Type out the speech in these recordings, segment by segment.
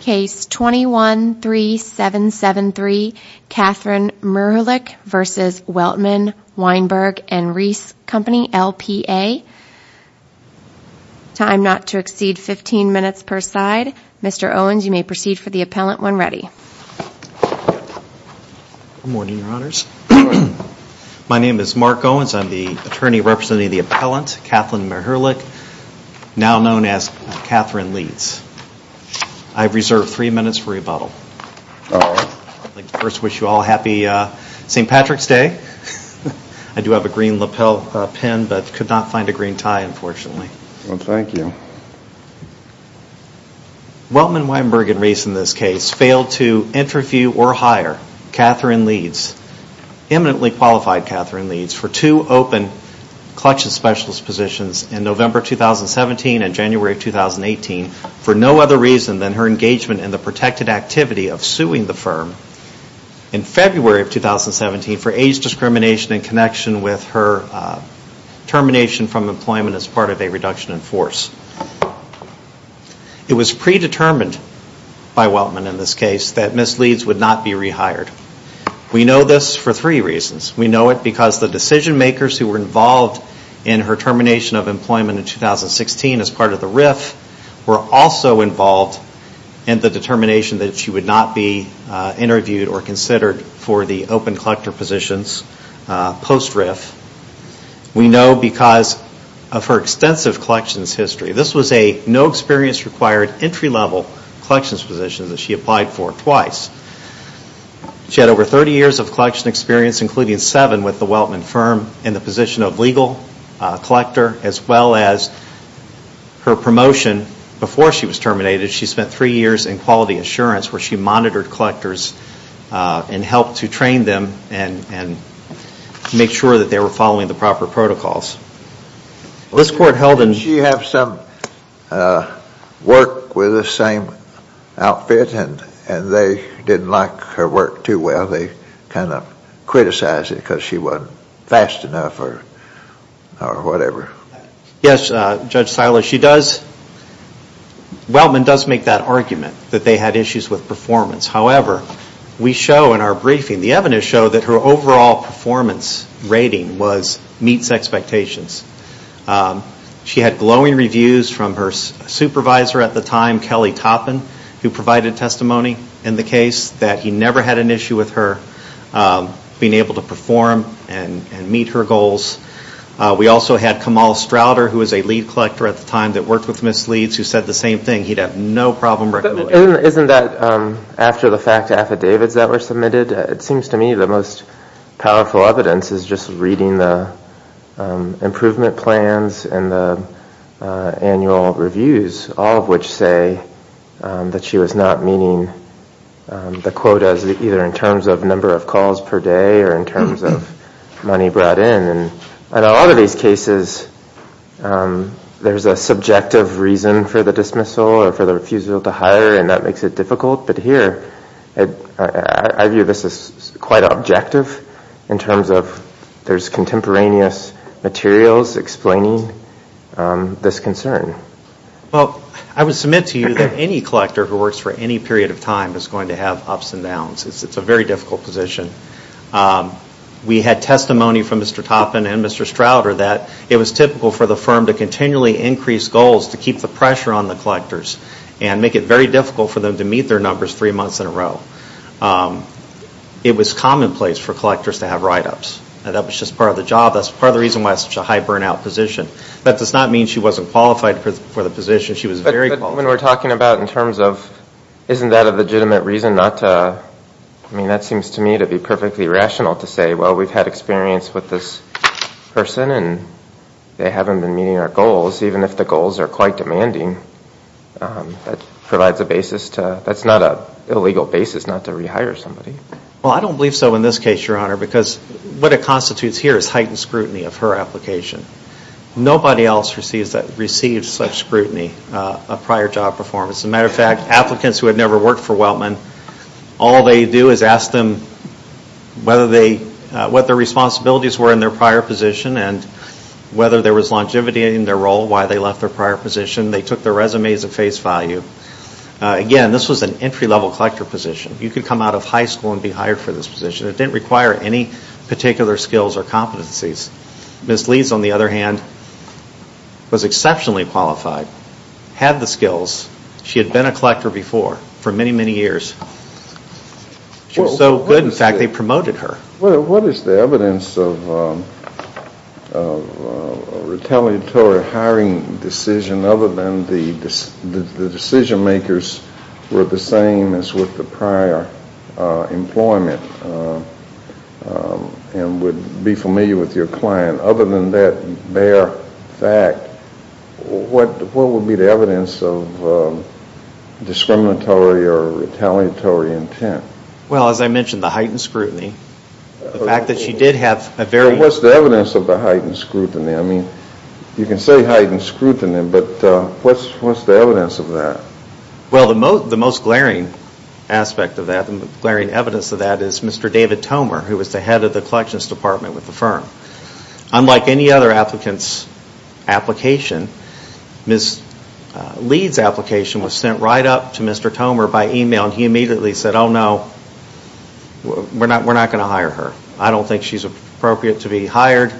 Case 21-3773, Katherine Merhulik v. Weltman Weinberg and Reis Company, LPA. Time not to exceed 15 minutes per side. Mr. Owens, you may proceed for the appellant when ready. Good morning, Your Honors. My name is Mark Owens. I'm the attorney representing the appellant, Katherine Merhulik, now known as Katherine Leeds. I reserve three minutes for rebuttal. I'd like to first wish you all a happy St. Patrick's Day. I do have a green lapel pin, but could not find a green tie, unfortunately. Well, thank you. Weltman Weinberg and Reis, in this case, failed to interview or hire Katherine Leeds, eminently qualified Katherine Leeds for two open collection specialist positions in November 2017 and January 2018 for no other reason than her engagement in the protected activity of suing the firm in February of 2017 for age discrimination in connection with her termination from employment as part of a reduction in force. It was predetermined by Weltman in this case that Ms. Leeds would not be rehired. We know this for three reasons. We know it because the decision makers who were involved in her termination of employment in 2016 as part of the RIF were also involved in the determination that she would not be interviewed or considered for the open collector positions post-RIF. We know because of her extensive collections history. This was a no-experience-required entry-level collections position that she applied for twice. She had over 30 years of collection experience, including seven with the Weltman firm in the position of legal collector, as well as her promotion before she was terminated. She spent three years in quality assurance where she monitored collectors and helped to train them and make sure that they were following the proper protocols. She had some work with the same outfit and they didn't like her work too well. They kind of criticized it because she wasn't fast enough or whatever. Yes, Judge Silas, Weltman does make that argument that they had issues with performance. However, we show in our briefing, the evidence show that her overall performance rating was meets expectations. She had glowing reviews from her supervisor at the time, Kelly Toppin, who provided testimony in the case that he never had an issue with her being able to perform and meet her goals. We also had Kamal Strouder, who was a lead collector at the time that worked with Ms. Leeds, who said the same thing. Isn't that after the fact affidavits that were submitted? It seems to me the most powerful evidence is just reading the improvement plans and the annual reviews, all of which say that she was not meeting the quotas either in terms of number of calls per day or in terms of money brought in. In a lot of these cases, there's a subjective reason for the dismissal or for the refusal to hire and that makes it difficult. But here, I view this as quite objective in terms of there's contemporaneous materials explaining this concern. Well, I would submit to you that any collector who works for any period of time is going to have ups and downs. It's a very difficult position. We had testimony from Mr. Toppin and Mr. Strouder that it was typical for the firm to continually increase goals to keep the pressure on the collectors and make it very difficult for them to meet their numbers three months in a row. It was commonplace for collectors to have write-ups. That was just part of the job. That's part of the reason why it's such a high burnout position. That does not mean she wasn't qualified for the position. Isn't that a legitimate reason? That seems to me to be perfectly rational to say, well, we've had experience with this person and they haven't been meeting our goals, even if the goals are quite demanding. That's not an illegal basis not to rehire somebody. Well, I don't believe so in this case, Your Honor, because what it constitutes here is heightened scrutiny of her application. Nobody else receives such scrutiny of prior job performance. As a matter of fact, applicants who had never worked for Weltman, all they do is ask them what their responsibilities were in their prior position and whether there was longevity in their role, why they left their prior position. They took their resumes at face value. Again, this was an entry-level collector position. You could come out of high school and be hired for this position. It didn't require any particular skills or competencies. Ms. Lees, on the other hand, was exceptionally qualified, had the skills. She had been a collector before for many, many years. She was so good, in fact, they promoted her. What is the evidence of a retaliatory hiring decision other than the decision-makers were the same as with the prior employment and would be familiar with your client? Other than that bare fact, what would be the evidence of discriminatory or retaliatory intent? Well, as I mentioned, the heightened scrutiny. What's the evidence of the heightened scrutiny? You can say heightened scrutiny, but what's the evidence of that? Well, the most glaring aspect of that, the glaring evidence of that, is Mr. David Tomer, who was the head of the collections department with the firm. Unlike any other applicant's application, Ms. Lees' application was sent right up to Mr. Tomer by email, and he immediately said, oh, no, we're not going to hire her. I don't think she's appropriate to be hired.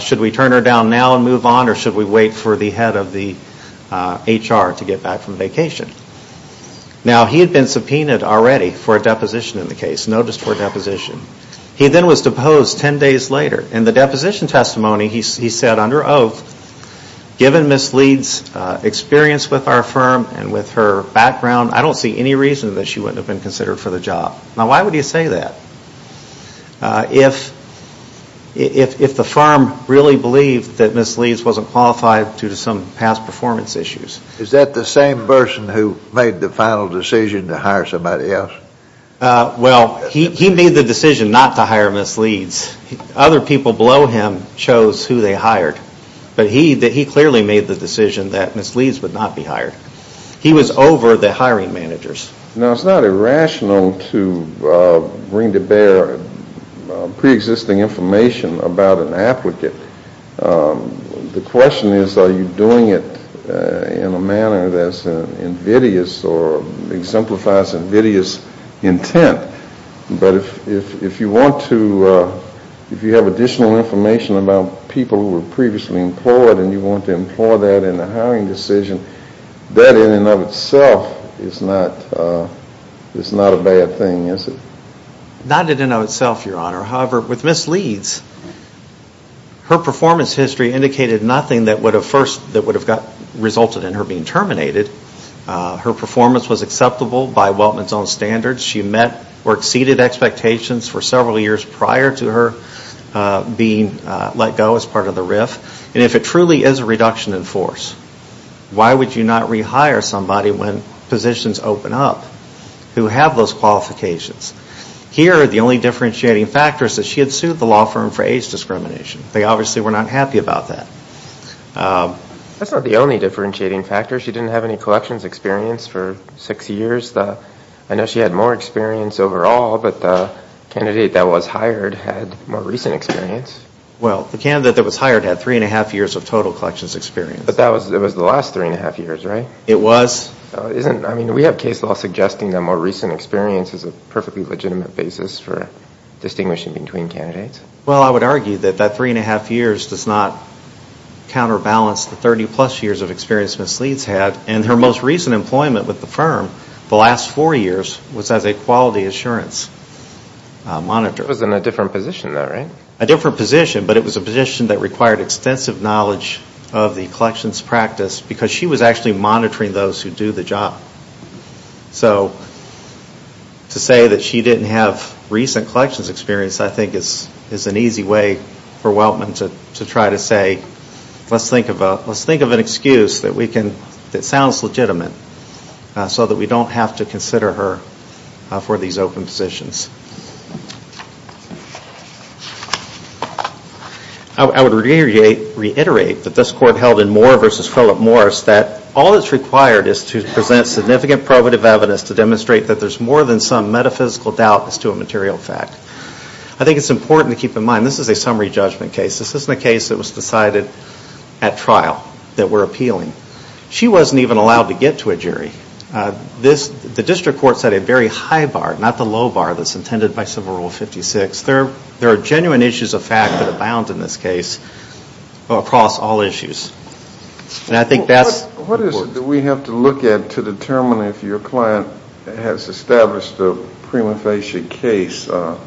Should we turn her down now and move on, or should we wait for the head of the HR to get back from vacation? Now, he had been subpoenaed already for a deposition in the case, notice for deposition. He then was deposed ten days later. In the deposition testimony, he said under oath, given Ms. Lees' experience with our firm and with her background, I don't see any reason that she wouldn't have been considered for the job. Now, why would he say that if the firm really believed that Ms. Lees wasn't qualified due to some past performance issues? Is that the same person who made the final decision to hire somebody else? Well, he made the decision not to hire Ms. Lees. Other people below him chose who they hired, but he clearly made the decision that Ms. Lees would not be hired. He was over the hiring managers. Now, it's not irrational to bring to bear preexisting information about an applicant. The question is, are you doing it in a manner that's invidious or exemplifies invidious intent? But if you want to, if you have additional information about people who were previously employed and you want to employ that in a hiring decision, that in and of itself is not a bad thing, is it? Not in and of itself, Your Honor. However, with Ms. Lees, her performance history indicated nothing that would have first resulted in her being terminated. Her performance was acceptable by Weltman's own standards. She met or exceeded expectations for several years prior to her being let go as part of the RIF. And if it truly is a reduction in force, why would you not rehire somebody when positions open up who have those qualifications? Here, the only differentiating factor is that she had sued the law firm for age discrimination. They obviously were not happy about that. That's not the only differentiating factor. She didn't have any collections experience for six years. I know she had more experience overall, but the candidate that was hired had more recent experience. Well, the candidate that was hired had three and a half years of total collections experience. But that was the last three and a half years, right? It was. I mean, we have case law suggesting that more recent experience is a perfectly legitimate basis for distinguishing between candidates. Well, I would argue that that three and a half years does not counterbalance the 30-plus years of experience Ms. Lees had. And her most recent employment with the firm the last four years was as a quality assurance monitor. It was in a different position, though, right? A different position, but it was a position that required extensive knowledge of the collections practice, because she was actually monitoring those who do the job. So to say that she didn't have recent collections experience, I think, is an easy way for Weltman to try to say, let's think of an excuse that sounds legitimate, so that we don't have to consider her for these open positions. I would reiterate that this court held in Moore v. Philip Morris that all that's required is to present significant probative evidence to demonstrate that there's more than some metaphysical doubt as to a material fact. I think it's important to keep in mind this is a summary judgment case. This isn't a case that was decided at trial that we're appealing. She wasn't even allowed to get to a jury. The district court set a very high bar, not the low bar that's intended by Civil Rule 56. There are genuine issues of fact that abound in this case across all issues. And I think that's important. What do we have to look at to determine if your client has established a prima facie case? Do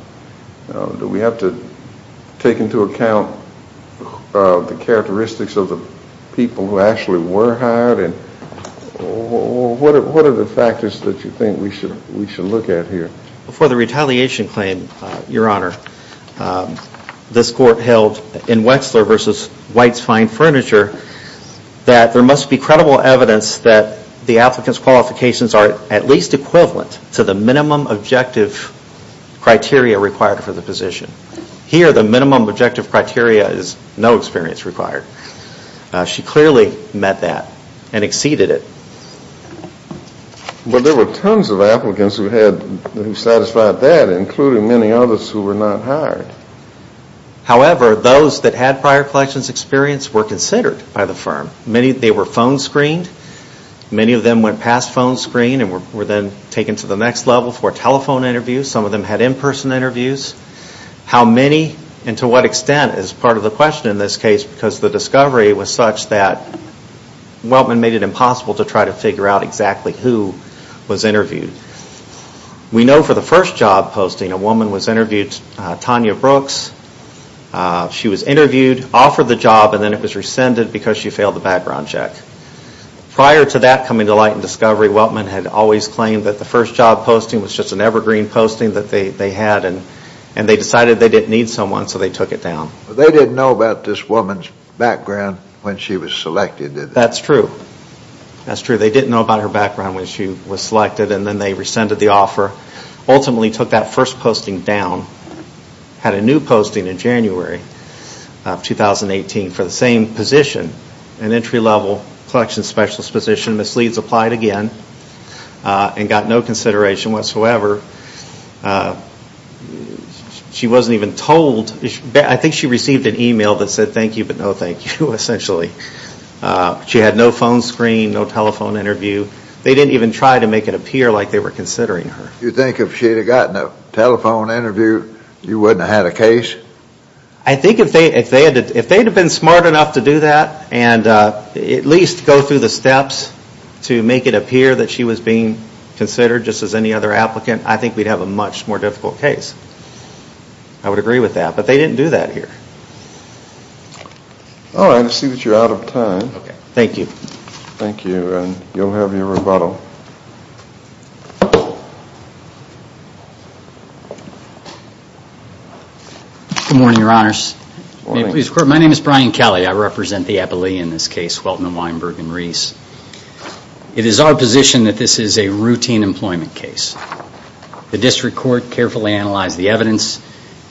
we have to take into account the characteristics of the people who actually were hired? And what are the factors that you think we should look at here? For the retaliation claim, Your Honor, this court held in Wexler v. White's Fine Furniture that there must be credible evidence that the applicant's qualifications are at least equivalent to the minimum objective criteria required for the position. Here, the minimum objective criteria is no prior experience required. She clearly met that and exceeded it. But there were tons of applicants who satisfied that, including many others who were not hired. However, those that had prior collections experience were considered by the firm. They were phone screened. Many of them went past phone screen and were then taken to the next level for telephone interviews. Some of them had in-person interviews. How many and to what extent is part of the question in this case because the discovery was such that Weltman made it impossible to try to figure out exactly who was interviewed. We know for the first job posting, a woman was interviewed, Tanya Brooks. She was interviewed, offered the job, and then it was rescinded because she failed the background check. Prior to that coming to light in discovery, Weltman had always claimed that the first job posting was just an evergreen posting that they had, and they decided they didn't need someone, so they took it down. They didn't know about this woman's background when she was selected, did they? That's true. That's true. They didn't know about her background when she was selected, and then they rescinded the offer, ultimately took that first posting down, had a new posting in January of 2018 for the same position, an entry-level specialist position. Ms. Leeds applied again and got no consideration whatsoever. She wasn't even told. I think she received an email that said thank you, but no thank you, essentially. She had no phone screen, no telephone interview. They didn't even try to make it appear like they were considering her. You think if she had gotten a telephone interview, you wouldn't have had a case? I think if they had been smart enough to do that and at least go through the steps to make it appear that she was being considered just as any other applicant, I think we'd have a much more difficult case. I would agree with that, but they didn't do that here. Alright, I see that you're out of time. Thank you. Thank you, and you'll have your rebuttal. Good morning, Your Honors. My name is Brian Kelly. I represent the appellee in this case, Welton, Weinberg, and Reese. It is our position that this is a routine employment case. The district court carefully analyzed the evidence.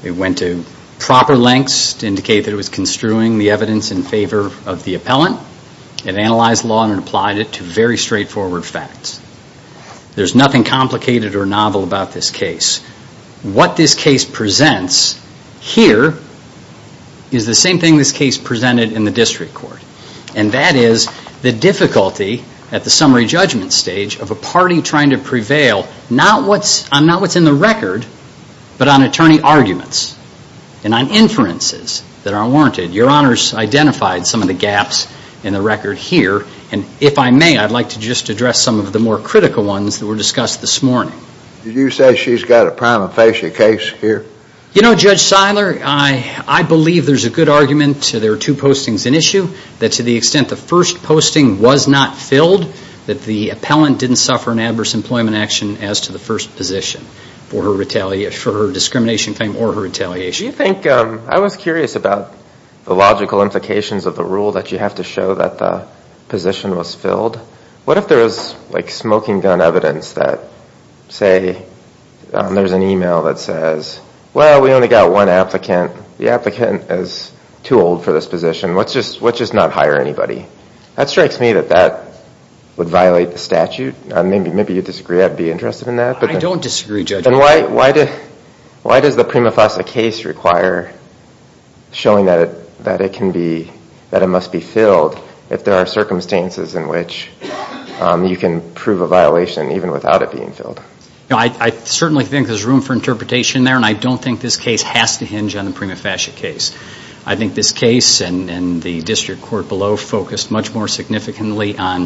It went to proper lengths to indicate that it was construing the evidence in favor of the appellant. It analyzed the law and applied it to very straightforward facts. There's nothing complicated or novel about this case. What this case presents here is the same thing this case presented in the district court, and that is the difficulty at the summary judgment stage of a party trying to prevail not on what's in the record, but on attorney arguments and inferences that are warranted. Your Honors identified some of the gaps in the record here, and if I may, I'd like to just address some of the more critical ones that were discussed this morning. Did you say she's got a prima facie case here? You know, Judge Seiler, I believe there's a good argument. There are two postings in issue, that to the extent the first posting was not filled, that the appellant didn't suffer an adverse employment action as to the first position for her discrimination claim or her retaliation. I was curious about the logical implications of the rule that you have to show that the position was filled. What if there was like smoking gun evidence that say, there's an email that says, well, we only got one applicant. The applicant is too old for this position. Let's just not hire anybody. That strikes me that that would violate the statute. Maybe you disagree. I'd be interested in that. I don't disagree, Judge. Why does the prima facie case require showing that it can be, that it must be filled if there are circumstances in which you can prove a violation even without it being filled? I certainly think there's room for interpretation there, and I don't think this case has to hinge on the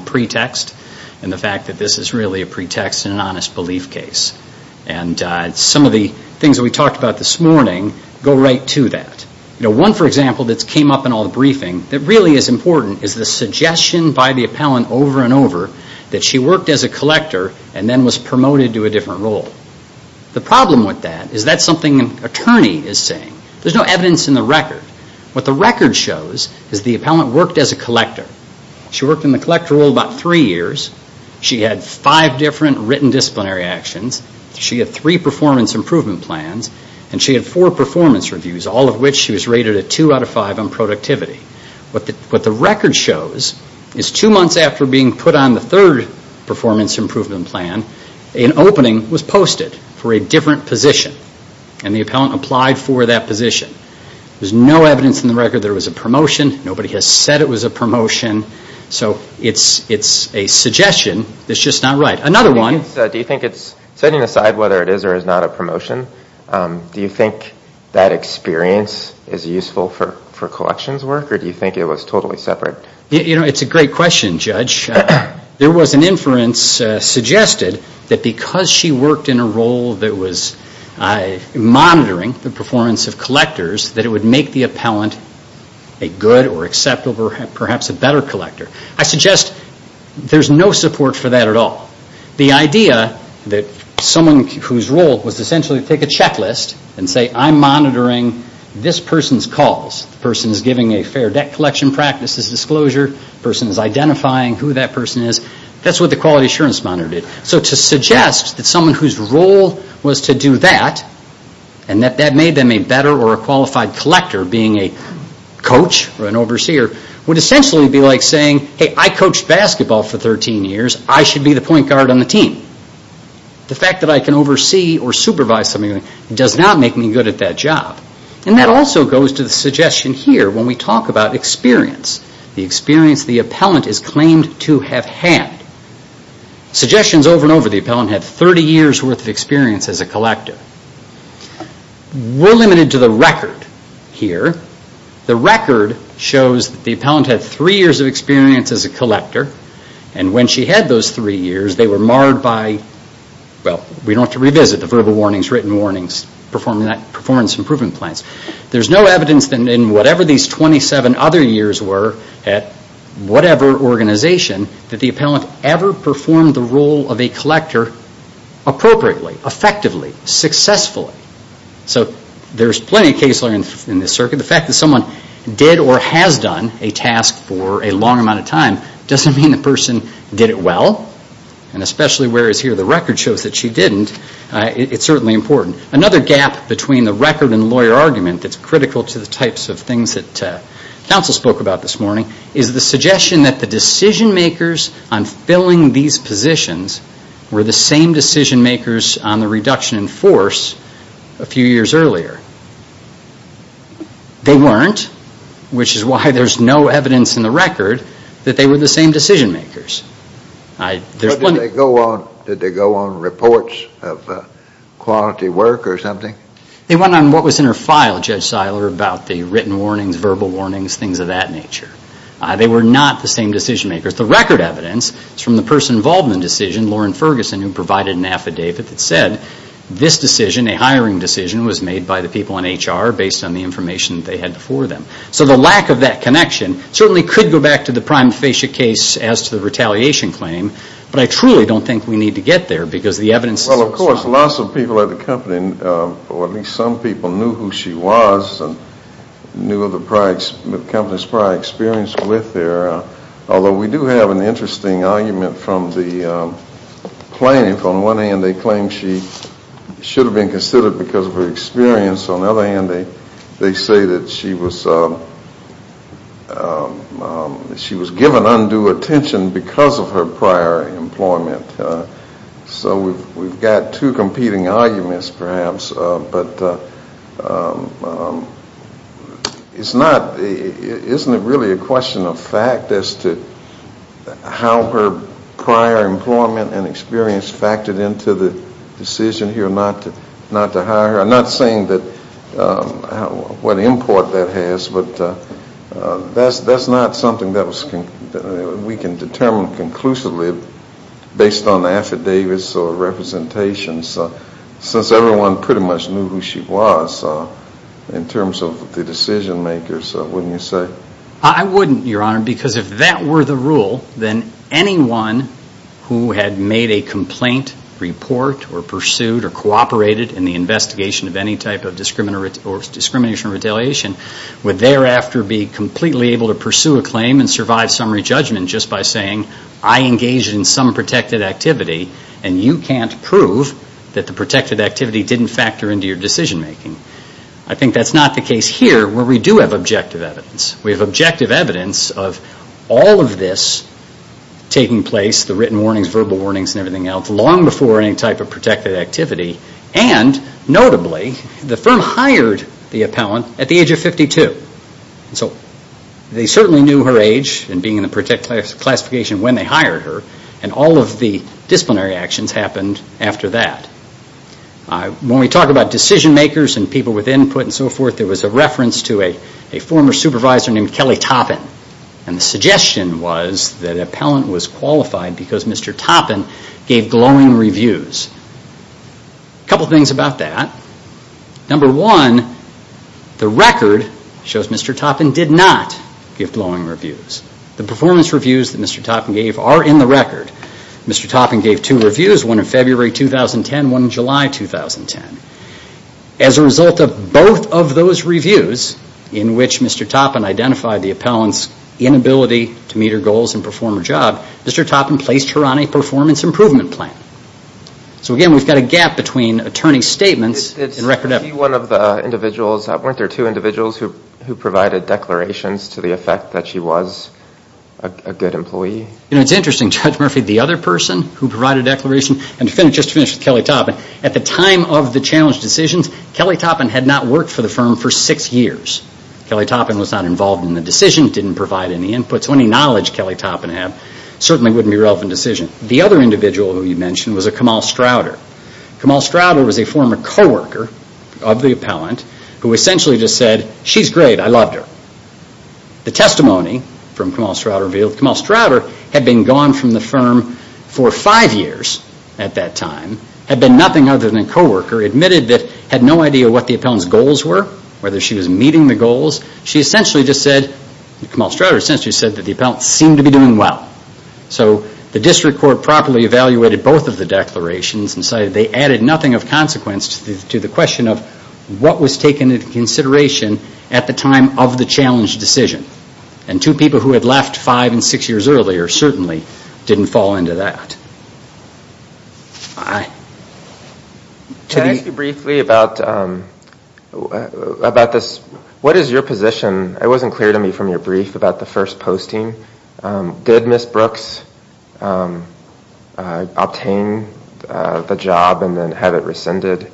pretext and the fact that this is really a pretext and an honest belief case. Some of the things that we talked about this morning go right to that. One, for example, that came up in all the briefing that really is important is the suggestion by the appellant over and over that she worked as a collector and then was promoted to a different role. The problem with that is that's something an attorney is saying. There's no evidence in the record. What the record shows is the appellant worked as a collector. She worked in the collector role about three years. She had five different written disciplinary actions. She had three performance improvement plans, and she had four performance reviews, all of which she was rated a two out of five on productivity. What the record shows is two months after being put on the third performance improvement plan, an opening was posted for a different position, and the appellant applied for that position. There's no evidence in the record there was a promotion. Nobody has said it was a promotion. So it's a suggestion that's just not right. Another one. Do you think it's, setting aside whether it is or is not a promotion, do you think that experience is useful for collections work, or do you think it was totally separate? It's a great question, Judge. There was an inference suggested that because she worked in a role that was monitoring the performance of collectors, that it would make the appellant a good or acceptable, perhaps a better collector. I suggest there's no support for that at all. The idea that someone whose role was essentially to take a checklist and say, I'm monitoring this person's calls. The person is giving a fair debt collection practices disclosure. The person is identifying who that person is. That's what the quality assurance monitor did. So to suggest that someone whose role was to do that, and that that made them a better or a qualified collector, being a coach or an overseer, would essentially be like saying, hey, I coached basketball for 13 years. I should be the point guard on the team. The fact that I can oversee or supervise something does not make me good at that job. And that also goes to the suggestion here when we talk about experience. The experience the appellant is claimed to have had. Suggestions over and over, the appellant had 30 years worth of experience as a collector. We're limited to the record here. The record shows the appellant had three years of experience as a collector, and when she had those three years, they were marred by, well, we don't have to revisit the verbal warnings, written warnings, performance improvement plans. There's no evidence in whatever these 27 other years were at whatever organization that the appellant ever performed the role of a collector appropriately, effectively, successfully. So there's plenty of case learning in this circuit. The fact that someone did or has done a task for a long amount of time doesn't mean the person did it well, and especially whereas here the record shows that she didn't, it's certainly important. Another gap between the record and lawyer argument that's critical to the types of things that counsel spoke about this morning is the suggestion that the decision makers on filling these positions were the same decision makers on the reduction in force a few years earlier. They weren't, which is why there's no evidence in the record that they were the same decision makers. Did they go on reports of quality work or something? They went on what was in her file, Judge Seiler, about the written warnings, verbal warnings, things of that nature. They were not the same decision makers. The record evidence is from the person involved in the decision, Lauren Ferguson, who provided an affidavit that said this decision, a hiring decision, was made by the people in HR based on the information they had before them. So the lack of that connection certainly could go back to the prime facia case as to the retaliation claim, but I truly don't think we need to get there because the evidence is so solid. Well, of course, lots of people at the company, or at least some people, knew who she was and knew the company's prior experience with her, although we do have an interesting argument from the plaintiff. On one hand, they claim she should have been considered because of her experience. On the other hand, they say that she was given undue attention because of her prior employment. So we've got two competing arguments, perhaps, but isn't it really a question of fact as to how her prior employment and experience factored into the decision here not to hire her? I'm not saying what import that has, but that's not something we can determine conclusively based on affidavits or representations, since everyone pretty much knew who she was in terms of the decision makers, wouldn't you say? I wouldn't, Your Honor, because if that were the rule, then anyone who had made a complaint, report, or pursued or cooperated in the investigation of any type of discrimination or retaliation would thereafter be completely able to pursue a claim and survive summary judgment just by saying, I engaged in some protected activity, and you can't prove that the protected activity didn't factor into your decision making. I think that's not the case here, where we do have objective evidence. We have objective evidence of all of this taking place, the written warnings, verbal warnings, and everything else, long before any type of protected activity, and notably, the firm hired the appellant at the age of 52. So they certainly knew her age and being in the protected classification when they hired her, and all of the disciplinary actions happened after that. When we talk about decision makers and people with input and so forth, there was a reference to a former supervisor named Kelly Toppin, and the suggestion was that an appellant was qualified because Mr. Toppin gave glowing reviews. A couple things about that. Number one, the record shows Mr. Toppin did not give glowing reviews. The performance reviews that Mr. Toppin gave are in the record. Mr. Toppin gave two reviews, one in February 2010 and one in July 2010. As a result of both of those reviews, in which Mr. Toppin identified the appellant's inability to meet her goals and perform her job, Mr. Toppin placed her on a performance improvement plan. So again, we've got a gap between attorney's statements and record evidence. Weren't there two individuals who provided declarations to the effect that she was a good employee? It's interesting. Judge Murphy, the other person who provided declarations, and just to finish with Kelly Toppin, at the time of the challenge decisions, Kelly Toppin had not worked for the firm for six years. Kelly Toppin was not involved in the decision, didn't provide any inputs. Any knowledge Kelly Toppin had certainly wouldn't be relevant to the decision. The other individual who you mentioned was a Kamal Strouder. Kamal Strouder was a former co-worker of the appellant who essentially just said, she's great, I loved her. The testimony from Kamal Strouder revealed Kamal Strouder had been gone from the firm for five years at that time, had been nothing other than a co-worker, admitted that had no idea what the appellant's goals were, whether she was meeting the goals. Kamal Strouder essentially said that the appellant seemed to be doing well. So the district court properly evaluated both of the declarations and decided they added nothing of consequence to the question of what was taken into consideration at the time of the challenge decision. And two people who had left five and six years earlier certainly didn't fall into that. Can I ask you briefly about this? What is your position? It wasn't clear to me from your brief about the first posting. Did Ms. Brooks obtain the job and then have it rescinded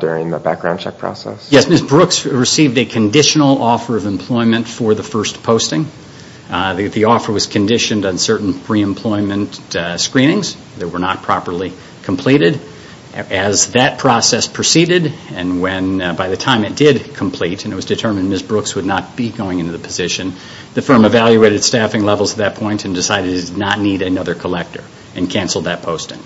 during the background check process? Yes, Ms. Brooks received a conditional offer of employment for the first posting. The offer was conditioned on certain pre-employment screenings that were not properly completed. As that process proceeded, and by the time it did complete, and it was determined Ms. Brooks would not be going into the position, the firm evaluated staffing levels at that point and decided it did not need another collector and canceled that posting.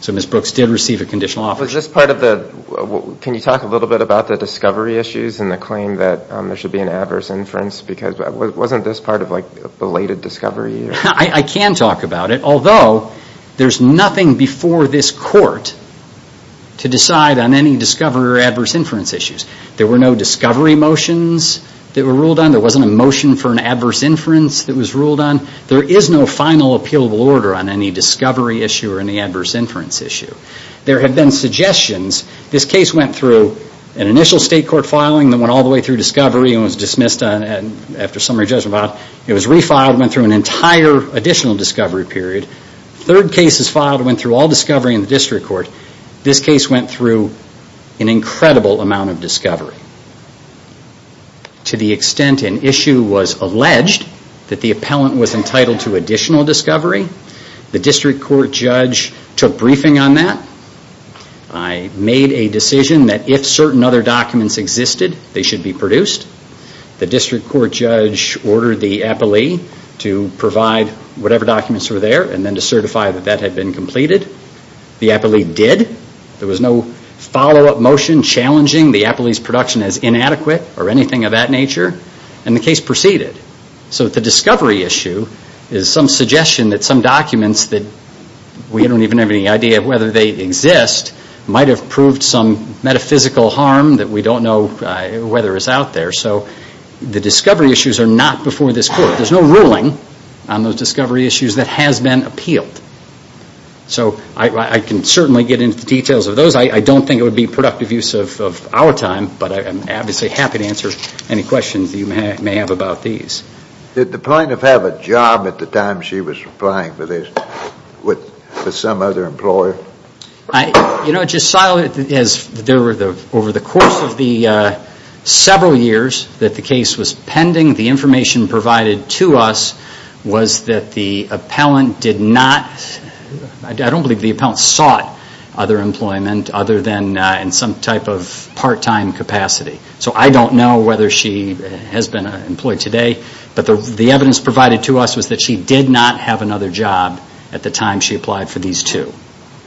So Ms. Brooks did receive a conditional offer. Can you talk a little bit about the discovery issues and the claim that there should be an adverse inference? Wasn't this part of belated discovery? I can talk about it, although there's nothing before this court to decide on any discovery or adverse inference issues. There were no discovery motions that were ruled on. There wasn't a motion for an adverse inference that was ruled on. There is no final appealable order on any discovery issue or any adverse inference issue. There have been suggestions. This case went through an initial state court filing that went all the way through discovery and was dismissed after summary judgment. It was refiled and went through an entire additional discovery period. Third cases filed went through all discovery in the district court. This case went through an incredible amount of discovery. To the extent an issue was alleged that the appellant was entitled to additional discovery, the district court judge took briefing on that. I made a decision that if certain other documents existed, they should be produced. The district court judge ordered the appellee to provide whatever documents were there and then to certify that that had been completed. The appellee did. There was no follow-up motion challenging the appellee's production as inadequate or anything of that nature. The discovery issue is some suggestion that some documents that we don't even have any idea of whether they exist might have proved some metaphysical harm that we don't know whether is out there. The discovery issues are not before this court. There's no ruling on those discovery issues that has been appealed. I can certainly get into the details of those. I don't think it would be productive use of our time, but I'm obviously happy to answer any questions you may have about these. Did the plaintiff have a job at the time she was replying to this with some other employer? Over the course of the several years that the case was pending, the information provided to us was that the appellant sought other employment other than in some type of part-time capacity. I don't know whether she has been employed today, but the evidence provided to us was that she did not have another job at the time she applied for these two.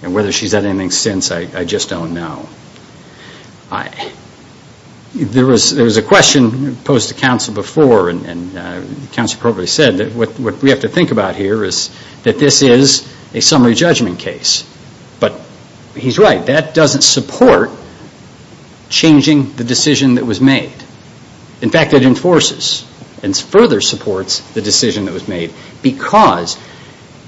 Whether she's had anything since, I just don't know. There was a question posed to counsel before, and counsel probably said that what we have to think about here is that this is a summary judgment case. But he's right, that doesn't support changing the decision that was made. In fact, it enforces and further supports the decision that was made. Because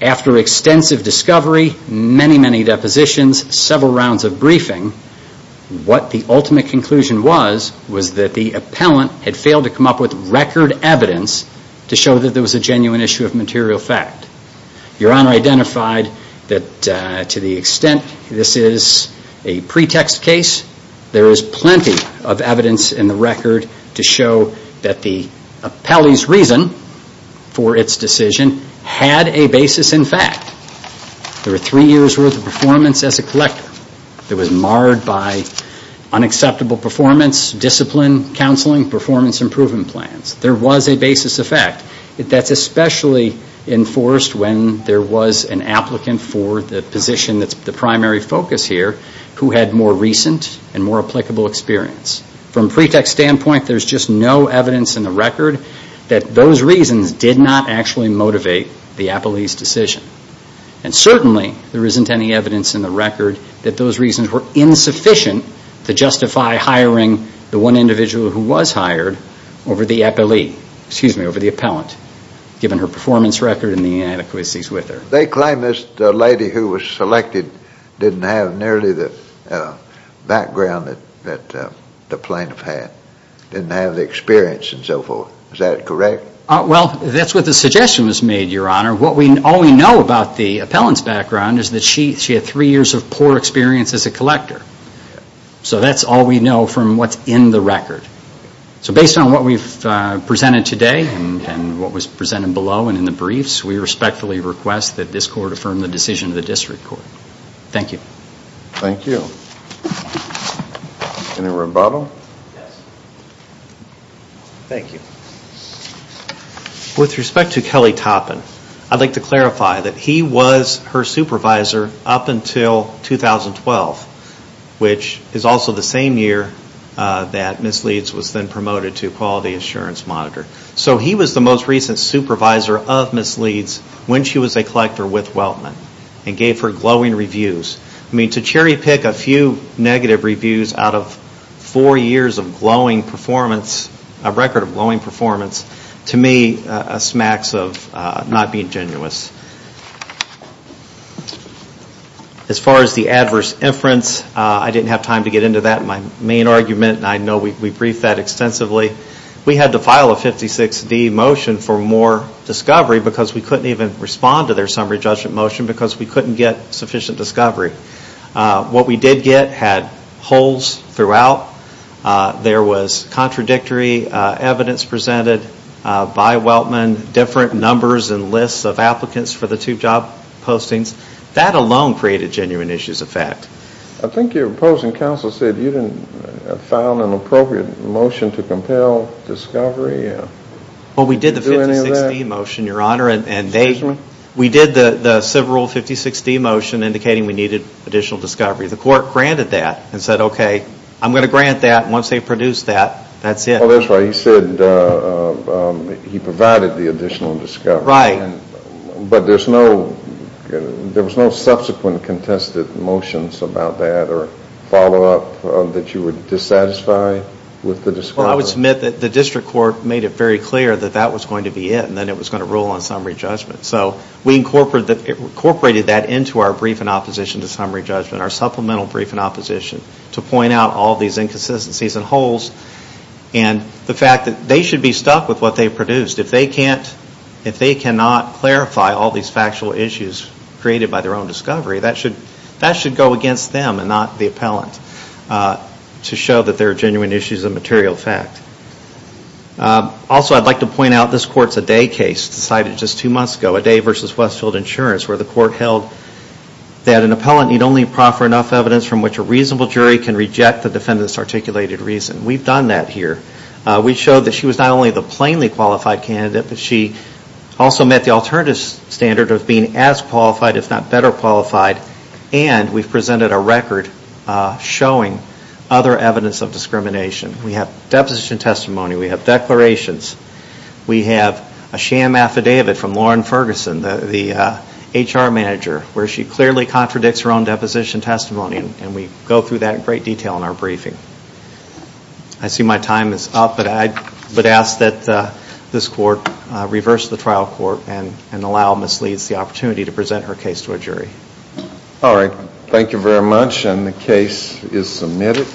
after extensive discovery, many, many depositions, several rounds of briefing, what the ultimate conclusion was, was that the appellant had failed to come up with record evidence to show that there was a genuine issue of material fact. Your Honor identified that to the extent that this is a pretext case, there is plenty of evidence in the record to show that the appellee's reason for its decision was that she did not have another job at the time she applied for these two. The appellant's decision had a basis in fact. There were three years' worth of performance as a collector. It was marred by unacceptable performance, discipline, counseling, performance improvement plans. There was a basis of fact. That's especially enforced when there was an applicant for the position that's the primary focus here who had more recent and more applicable experience. From pretext standpoint, there's just no evidence in the record that those reasons did not actually motivate the appellee's decision. And certainly, there isn't any evidence in the record that those reasons were insufficient to justify hiring the one individual who was hired over the appellant, given her performance record and the inadequacies with her. They claim this lady who was selected didn't have nearly the background that the plaintiff had, didn't have the experience and so forth. Is that correct? Well, that's what the suggestion was made, Your Honor. All we know about the appellant's background is that she had three years of poor experience as a collector. So that's all we know from what's in the record. So based on what we've presented today and what was presented below and in the briefs, we respectfully request that this Court affirm the decision of the District Court. Thank you. Thank you. With respect to Kelly Toppin, I'd like to clarify that he was her supervisor up until 2012, which is also the same year that Ms. Leeds was then promoted to Quality Assurance Monitor. So he was the most recent supervisor of Ms. Leeds when she was a collector with Weltman and gave her glowing reviews. I mean, to cherry pick a few negative reviews out of four years of glowing performance, a record of glowing performance, to me smacks of not being genuine. As far as the adverse inference, I didn't have time to get into that in my main argument, and I know we briefed that extensively. We had to file a 56-D motion for more discovery because we couldn't even respond to their summary judgment motion because we couldn't get sufficient discovery. What we did get had holes throughout. There was contradictory evidence presented by Weltman, different numbers and lists of applicants, for the two job postings. That alone created genuine issues of fact. I think your opposing counsel said you didn't file an appropriate motion to compel discovery. Well, we did the 56-D motion, Your Honor, and we did the civil rule 56-D motion indicating we needed additional discovery. The court granted that and said, okay, I'm going to grant that. Once they produce that, that's it. Well, that's right. He said he provided the additional discovery. Right. But there was no subsequent contested motions about that or follow-up that you were dissatisfied with the discovery? Well, I would submit that the district court made it very clear that that was going to be it and then it was going to rule on summary judgment. So we incorporated that into our brief in opposition to summary judgment, our supplemental brief in opposition, to point out all these inconsistencies and holes and the fact that they should be stuck with what they produced. If they cannot clarify all these factual issues created by their own discovery, that should go against them and not the appellant to show that there are genuine issues of material fact. Also, I'd like to point out this court's Adai case decided just two months ago, Adai v. Westfield Insurance, where the court held that an appellant need only proffer enough evidence from which a reasonable jury can reject the defendant's articulated reason. We've done that here. We showed that she was not only the plainly qualified candidate, but she also met the alternative standard of being as qualified, if not better qualified, and we've presented a record showing other evidence of discrimination. We have deposition testimony, we have declarations, we have a sham affidavit from Lauren Ferguson, the HR manager, where she clearly contradicts her own deposition testimony, and we go through that in great detail in our briefing. I see my time is up, but I would ask that this court reverse the trial court and allow Ms. Leeds the opportunity to present her case to a jury. Thank you very much and the case is submitted.